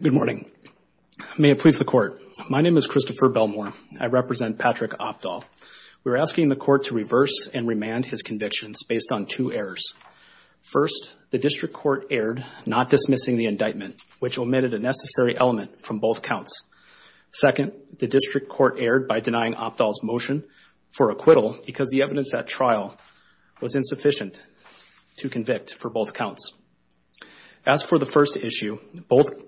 Good morning. May it please the court. My name is Christopher Belmore. I represent Patrick Opdahl. We're asking the court to reverse and remand his convictions based on two errors. First, the district court erred, not dismissing the indictment, which omitted a necessary element from both counts. Second, the district court erred by denying Opdahl's motion for acquittal because the evidence at trial was insufficient to convict for both counts. As for the first issue,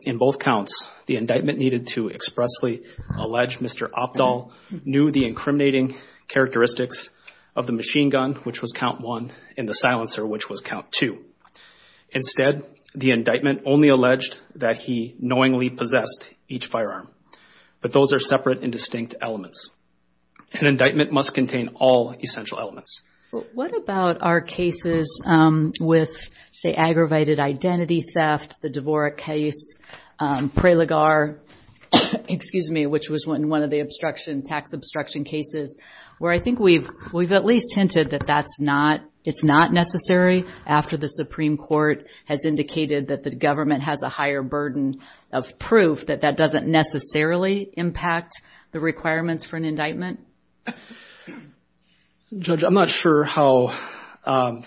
in both counts, the indictment needed to expressly allege Mr. Opdahl knew the incriminating characteristics of the machine gun, which was count one, and the silencer, which was count two. Instead, the indictment only alleged that he knowingly possessed each firearm. But those are separate and distinct elements. An indictment must contain all essential elements. What about our cases with, say, aggravated identity theft, the Dvorak case, Prelagar, excuse me, which was one of the tax obstruction cases, where I think we've at least hinted that it's not necessary after the Supreme Court has indicated that the government has a higher burden of proof that that doesn't necessarily impact the requirements for an indictment? Judge, I'm not sure how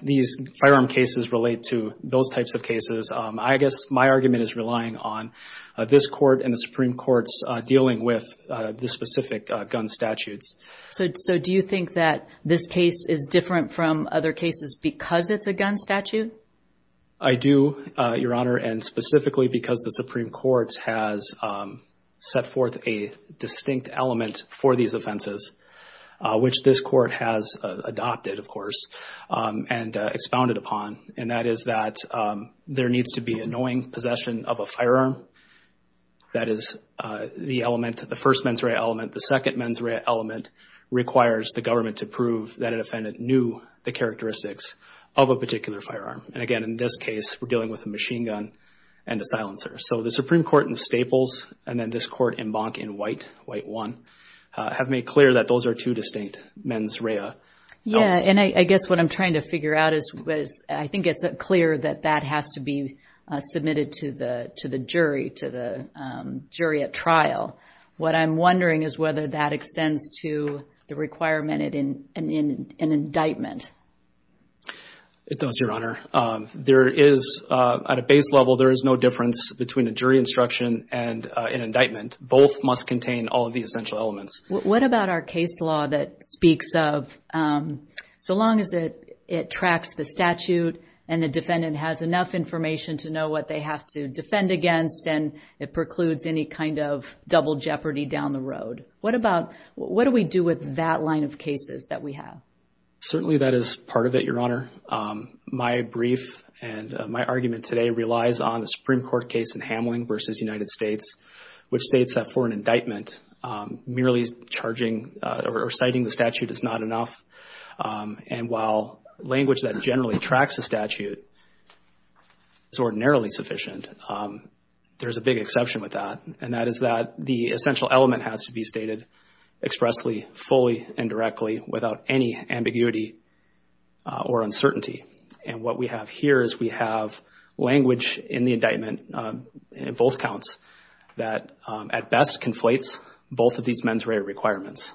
these firearm cases relate to those types of cases. I guess my argument is relying on this court and the Supreme Court's dealing with the specific gun statutes. So do you think that this case is different from other cases because it's a gun statute? I do, Your Honor, and specifically because the Supreme Court has set forth a distinct element for these offenses, which this court has adopted, of course, and expounded upon, and that is that there needs to be a knowing possession of a firearm. That is the element, the first mens rea element. The second mens rea element requires the government to prove that defendant knew the characteristics of a particular firearm. And again, in this case, we're dealing with a machine gun and a silencer. So the Supreme Court in Staples and then this court in Bonk in White, White 1, have made clear that those are two distinct mens rea elements. Yeah, and I guess what I'm trying to figure out is, I think it's clear that that has to be submitted to the jury, to the jury at trial. What I'm wondering is whether that extends to the requirement in an indictment. It does, Your Honor. There is, at a base level, there is no difference between a jury instruction and an indictment. Both must contain all of the essential elements. What about our case law that speaks of, so long as it tracks the statute and the defendant has enough information to know what they have to defend against and it precludes any double jeopardy down the road. What do we do with that line of cases that we have? Certainly, that is part of it, Your Honor. My brief and my argument today relies on the Supreme Court case in Hamlin versus United States, which states that for an indictment, merely charging or citing the statute is not enough. And while language that generally tracks the statute is ordinarily sufficient, there's a big exception with that. And that is that the essential element has to be stated expressly, fully, and directly without any ambiguity or uncertainty. And what we have here is we have language in the indictment, in both counts, that at best conflates both of these mens rea requirements.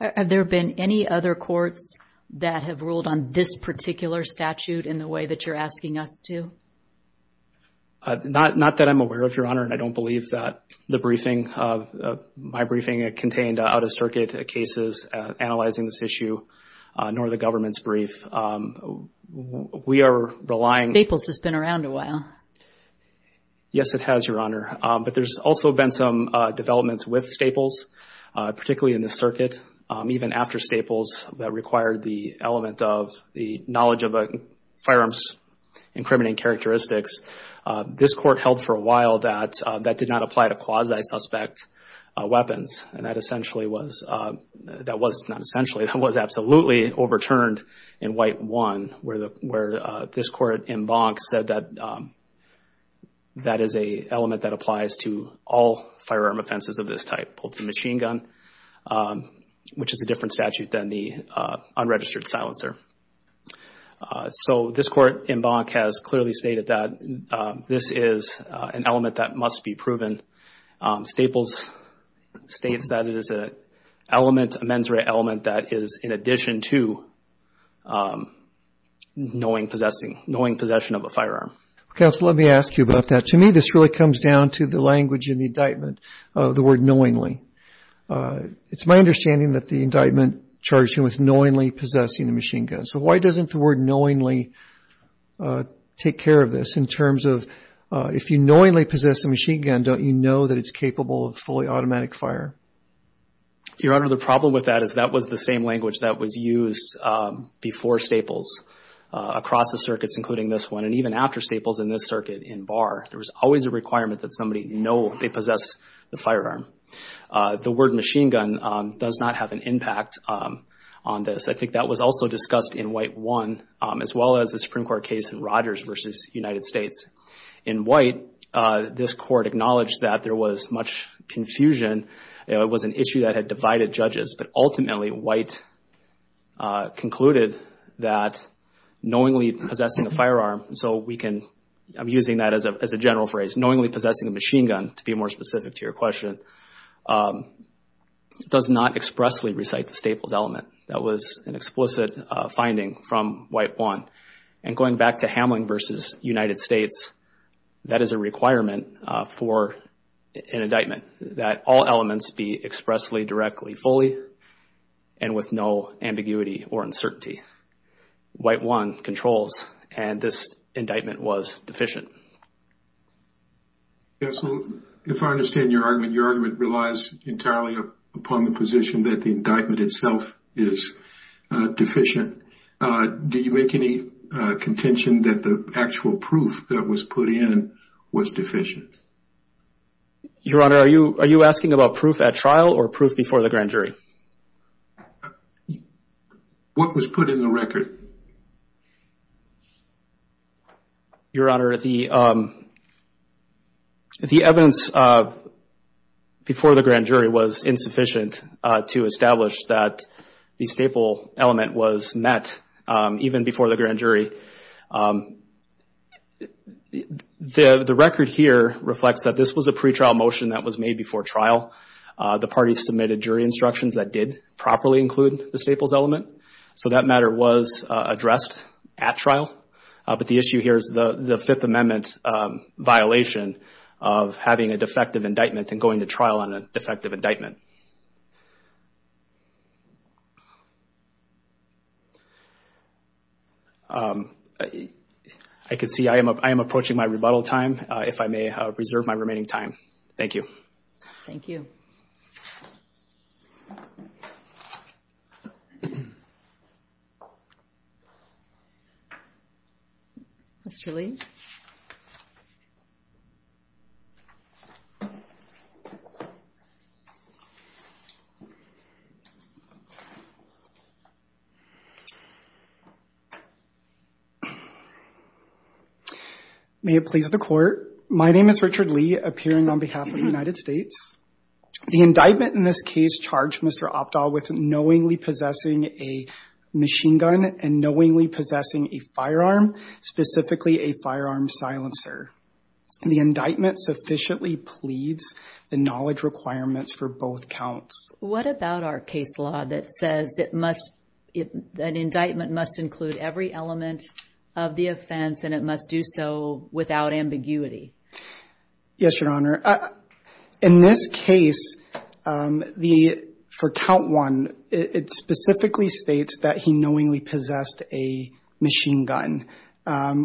Have there been any other courts that have ruled on this particular statute in the way that you're asking us to? Not that I'm aware of, Your Honor, and I don't believe that the briefing, my briefing, contained out-of-circuit cases analyzing this issue, nor the government's brief. We are relying... Staples has been around a while. Yes, it has, Your Honor. But there's also been some developments with Staples, particularly in the circuit, even after Staples, that required the element of the knowledge of firearms incriminating characteristics. This court held for a while that that did not apply to quasi-suspect weapons. And that essentially was, that was not essentially, that was absolutely overturned in White 1, where this court in Bonk said that that is an element that applies to all firearm offenses of this type, both the machine gun, which is a different statute than the unregistered silencer. So this court in Bonk has clearly stated that this is an element that must be proven. Staples states that it is an element, a mens rea element, that is in addition to knowing possessing, knowing possession of a firearm. Counsel, let me ask you about that. To me, this really comes down to the language in the indictment of the word knowingly. It's my understanding that the indictment charged him with knowingly possessing a machine gun. So why doesn't the word knowingly take care of this in terms of if you knowingly possess a machine gun, don't you know that it's capable of fully automatic fire? Your Honor, the problem with that is that was the same language that was used before Staples across the circuits, including this one, and even after Staples in this circuit in Barr. There was always a requirement that somebody know they possess the firearm. The word machine gun does not have an impact on this. I think that was also discussed in White 1, as well as the Supreme Court case in Rogers versus United States. In White, this court acknowledged that there was much confusion. It was an issue that had divided judges, but ultimately White concluded that knowingly possessing a firearm, so we can, I'm using that as a general phrase, knowingly possessing a machine gun, to be more specific to your question, does not expressly recite the Staples element. That was an explicit finding from White 1. And going back to Hamlin versus United States, that is a requirement for an indictment, that all elements be expressly, directly, fully, and with no ambiguity or uncertainty. White 1 controls, and this indictment was deficient. Yes, so if I understand your argument, your argument relies entirely upon the position that the indictment itself is deficient. Do you make any contention that the actual proof that was put in was deficient? Your Honor, are you asking about proof at trial or proof before the grand jury? What was put in the record? Your Honor, the evidence before the grand jury was insufficient to establish that the Staples element was met even before the grand jury. The record here reflects that this was a pretrial motion that was made before trial. The parties submitted jury instructions that did properly include the Staples element, so that matter was addressed at trial. But the issue here is the Fifth Amendment violation of having a defective indictment and going to trial on a defective indictment. I can see I am approaching my rebuttal time. If I may reserve my remaining time. Thank you. Thank you. Mr. Lee? May it please the Court. My name is Richard Lee, appearing on behalf of the United States. The indictment in this case charged Mr. Optal with knowingly possessing a machine gun and knowingly possessing a firearm, specifically a firearm silencer. The indictment sufficiently pleads the knowledge requirements for both counts. What about our case law that says an indictment must include every element of the offense and it must do so without ambiguity? Yes, Your Honor. In this case, for count one, it specifically states that he knowingly possessed a machine gun,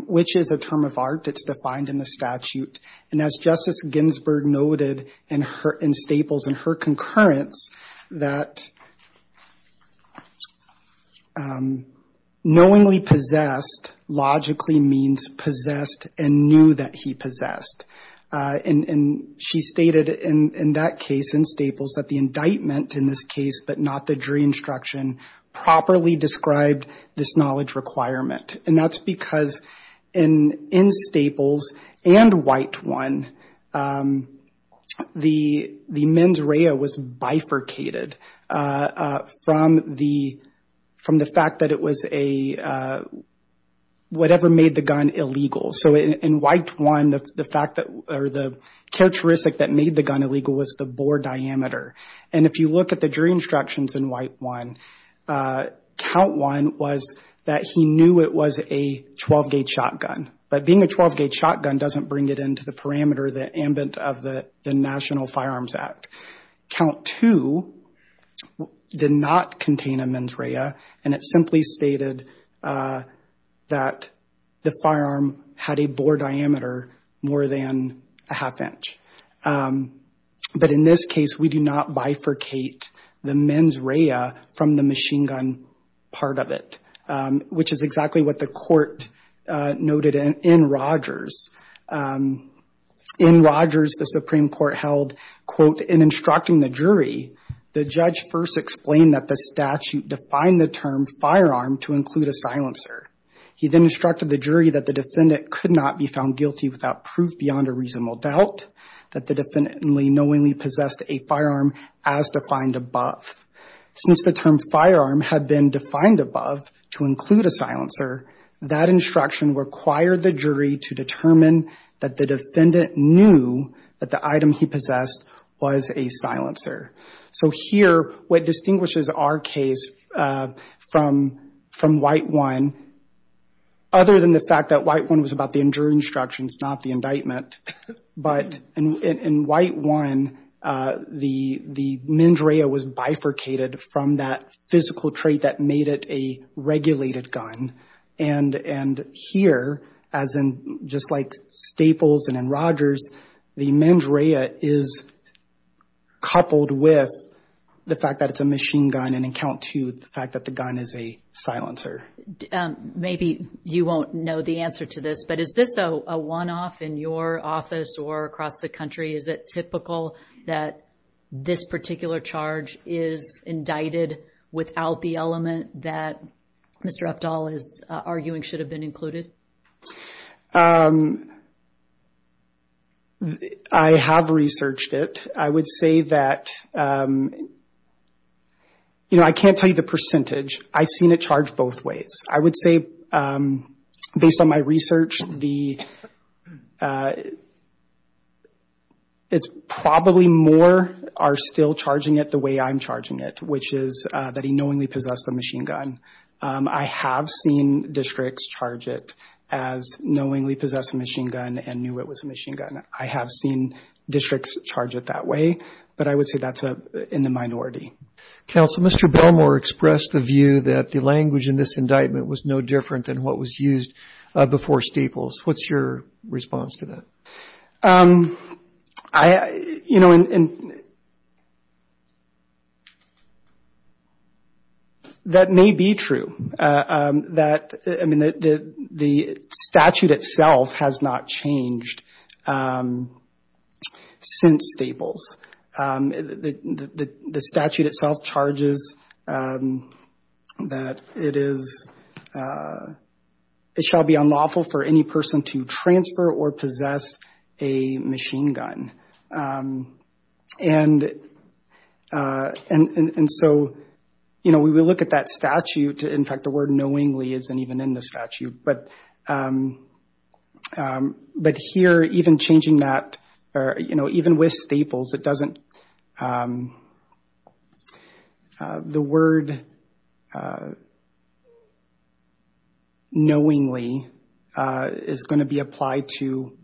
which is a term of art. It's defined in the statute. And as Justice Ginsburg noted in Staples, in her concurrence, that knowingly possessed logically means possessed and knew that he possessed. And she stated in that case in Staples that the indictment in this case, but not the jury instruction, properly described this knowledge requirement. And that's because in Staples and white one, the mens rea was bifurcated from the fact that it was a whatever made the gun illegal. So in white one, the fact that or the characteristic that made the gun illegal was the bore diameter. And if you look at the jury instructions in white one, count one was that he knew it was a 12-gauge shotgun. But being a 12-gauge shotgun doesn't bring it into the parameter, the ambit of the National Firearms Act. Count two did not contain a mens rea. And it simply stated that the firearm had a bore diameter more than a half inch. But in this case, we do not bifurcate the mens rea from the machine gun part of it, which is exactly what the court noted in Rogers. In Rogers, the Supreme Court held, quote, in instructing the jury, the judge first explained that the statute defined the term firearm to include a silencer. He then instructed the jury that the defendant could not be found guilty without proof beyond a reasonable doubt, that the defendant knowingly possessed a firearm as defined above. Since the term firearm had been defined above to include a silencer, that instruction required the jury to determine that the defendant knew that the item he possessed was a silencer. So here, what distinguishes our case from White 1, other than the fact that White 1 was about the injury instructions, not the indictment, but in White 1, the mens rea was bifurcated from that physical trait that made it a regulated gun. And here, as in just like Staples and in Rogers, the mens rea is coupled with the fact that it's a machine gun in account to the fact that the gun is a silencer. Maybe you won't know the answer to this, but is this a one-off in your office or across the country? Is it typical that this particular charge is indicted without the element that Mr. Uphdahl is arguing should have been included? I have researched it. I would say that, you know, I can't tell you the percentage. I've seen it charged both ways. I would say based on my research, it's probably more are still charging it the way I'm charging it, which is that he knowingly possessed a machine gun. I have seen districts charge it as knowingly possessed a machine gun and knew it was a machine gun. I have seen districts charge it that way, but I would say that's in the minority. Counsel, Mr. Belmore expressed the view that the language in this indictment was no different than what was used before Staples. What's your response to that? I, you know, and that may be true. That, I mean, the statute itself has not changed since Staples. The statute itself charges that it is, it shall be unlawful for any person to transfer or possess a machine gun. And so, you know, we will look at that statute. In fact, the word knowingly isn't even in the statute. But here, even changing that, or, you know, even with Staples, it doesn't, the word knowingly is going to be applied to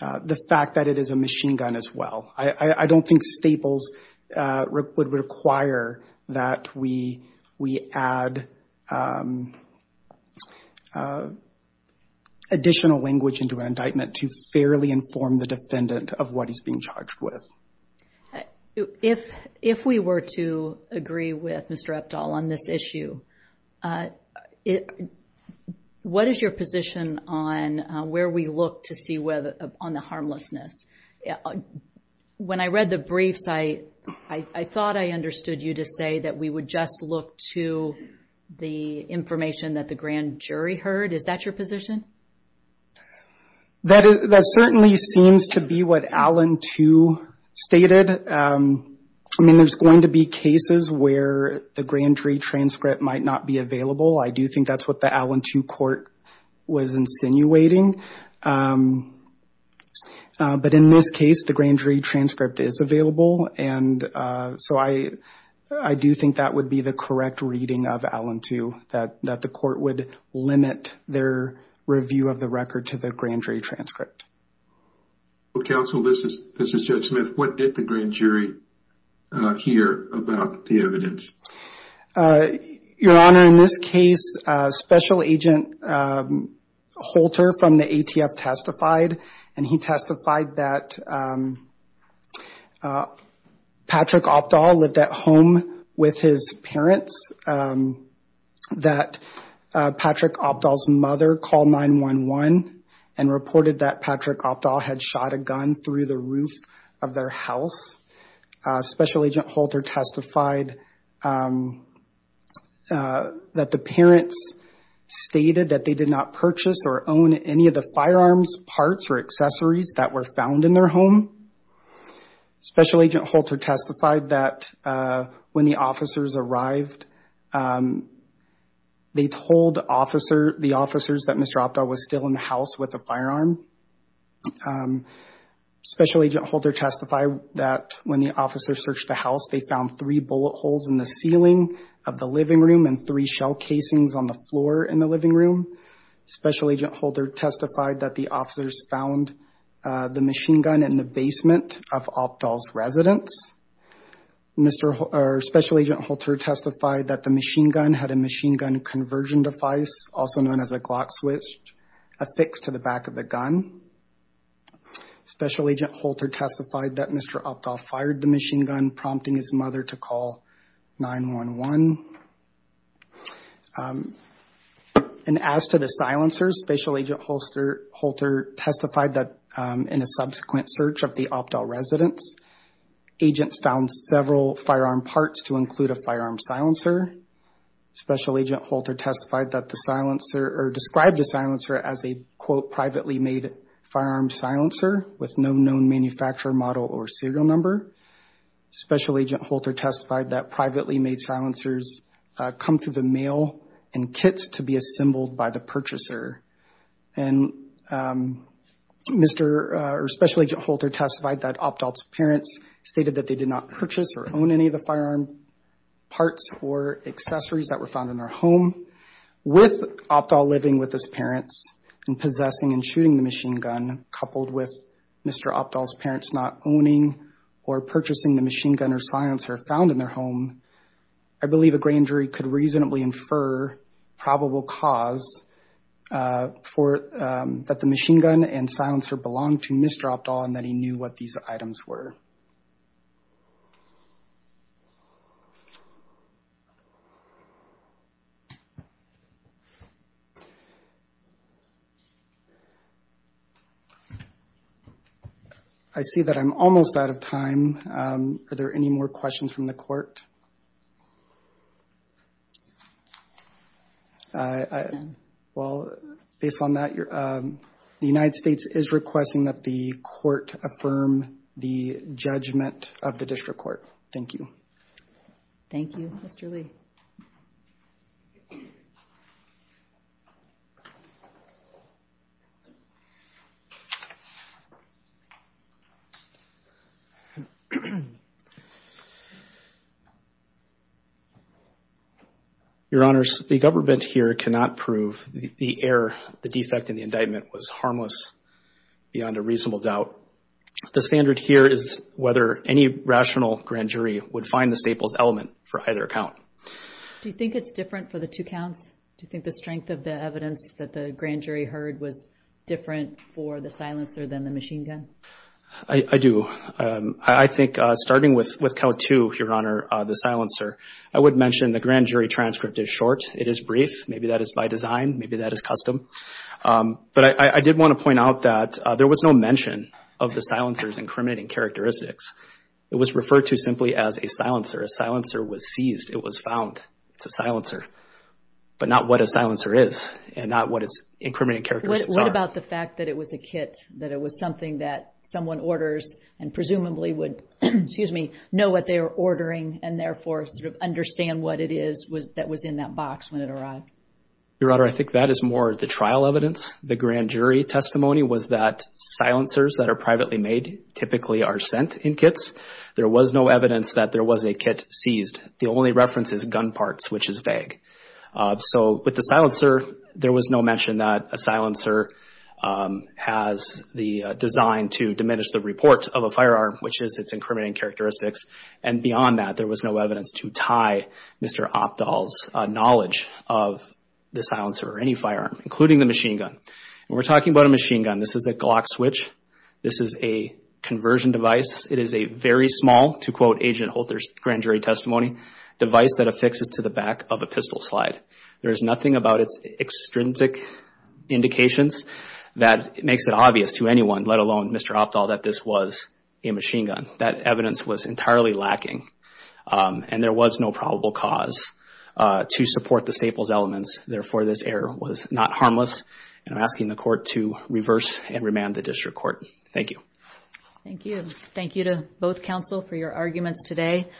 the fact that it is a machine gun as well. I don't think Staples would require that we add additional language into an indictment to fairly inform the defendant of what he's being charged with. If we were to agree with Mr. Epdahl on this issue, what is your position on where we look to see whether on the harmlessness? When I read the briefs, I thought I understood you to say that we would just look to the information that the grand jury heard. Is that your position? That certainly seems to be what Allen too stated. I mean, there's going to be cases where the grand jury transcript might not be available. I do think that's what the Allen too court was insinuating. But in this case, the grand jury transcript is available. And so I do think that would be the correct reading of Allen too, that the court would limit their review of the record to the grand jury transcript. Counsel, this is Judge Smith. What did the grand jury hear about the evidence? Your Honor, in this case, Special Agent Holter from the ATF testified, and he testified that Patrick Epdahl lived at home with his parents, that Patrick Epdahl's mother called 911 and reported that Patrick Epdahl had shot a gun through the roof of their house. Special Agent Holter testified that the parents stated that they did not purchase or own any of firearms parts or accessories that were found in their home. Special Agent Holter testified that when the officers arrived, they told the officers that Mr. Epdahl was still in the house with a firearm. Special Agent Holter testified that when the officers searched the house, they found three bullet holes in the ceiling of the living room and three shell casings on the floor in the living room. Special Agent Holter testified that the officers found the machine gun in the basement of Epdahl's residence. Special Agent Holter testified that the machine gun had a machine gun conversion device, also known as a Glock switch, affixed to the back of the gun. Special Agent Holter testified that Mr. Epdahl fired the machine gun, prompting his mother to call 911. And as to the silencers, Special Agent Holter testified that in a subsequent search of the Epdahl residence, agents found several firearm parts to include a firearm silencer. Special Agent Holter testified that the silencer or described the silencer as a, quote, privately made firearm silencer with no known manufacturer model or serial number. Special Agent Holter testified that privately made silencers come through the mail in kits to be assembled by the purchaser. And Mr. or Special Agent Holter testified that Epdahl's parents stated that they did not purchase or own any of the firearm parts or accessories that were found in their home. With Epdahl living with his parents and possessing and shooting the machine gun, coupled with Mr. Epdahl's parents not owning or purchasing the machine gun or silencer found in their home, I believe a grand jury could reasonably infer probable cause for that the machine gun and silencer belonged to Mr. Epdahl and that he knew what these items were. I see that I'm almost out of time. Are there any more questions from the court? Well, based on that, the United States is requesting that the court affirm the judgment of the district court. Thank you. Thank you, Mr. Lee. Your Honors, the government here cannot prove the error, the defect in the indictment was harmless beyond a reasonable doubt. The standard here is whether any rational grand jury would find the staples element for either account. Do you think it's different for the two counts? Do you think the strength of the evidence that the grand jury heard was different for the silencer? I do. I think starting with count two, Your Honor, the silencer, I would mention the grand jury transcript is short. It is brief. Maybe that is by design. Maybe that is custom. But I did want to point out that there was no mention of the silencer's incriminating characteristics. It was referred to simply as a silencer. A silencer was seized. It was found. It's a silencer, but not what a silencer is and not what its incriminating characteristics are. What about the fact that it was a kit, that it was something that someone orders and presumably would know what they were ordering and therefore sort of understand what it is that was in that box when it arrived? Your Honor, I think that is more the trial evidence. The grand jury testimony was that silencers that are privately made typically are sent in kits. There was no evidence that there was a kit seized. The only reference is gun parts, which is vague. So with the silencer, there was no mention that a silencer has the design to diminish the report of a firearm, which is its incriminating characteristics. Beyond that, there was no evidence to tie Mr. Opdahl's knowledge of the silencer or any firearm, including the machine gun. When we're talking about a machine gun, this is a Glock switch. This is a conversion device. It is a very small, to quote Agent Holter's grand jury testimony, device that affixes to the back of a pistol slide. There is nothing about its extrinsic indications that makes it obvious to anyone, let alone Mr. Opdahl, that this was a machine gun. That evidence was entirely lacking and there was no probable cause to support the staples elements. Therefore, this error was not harmless and I'm asking the court to reverse and remand the district court. Thank you. Thank you. Thank you to both counsel for your arguments today.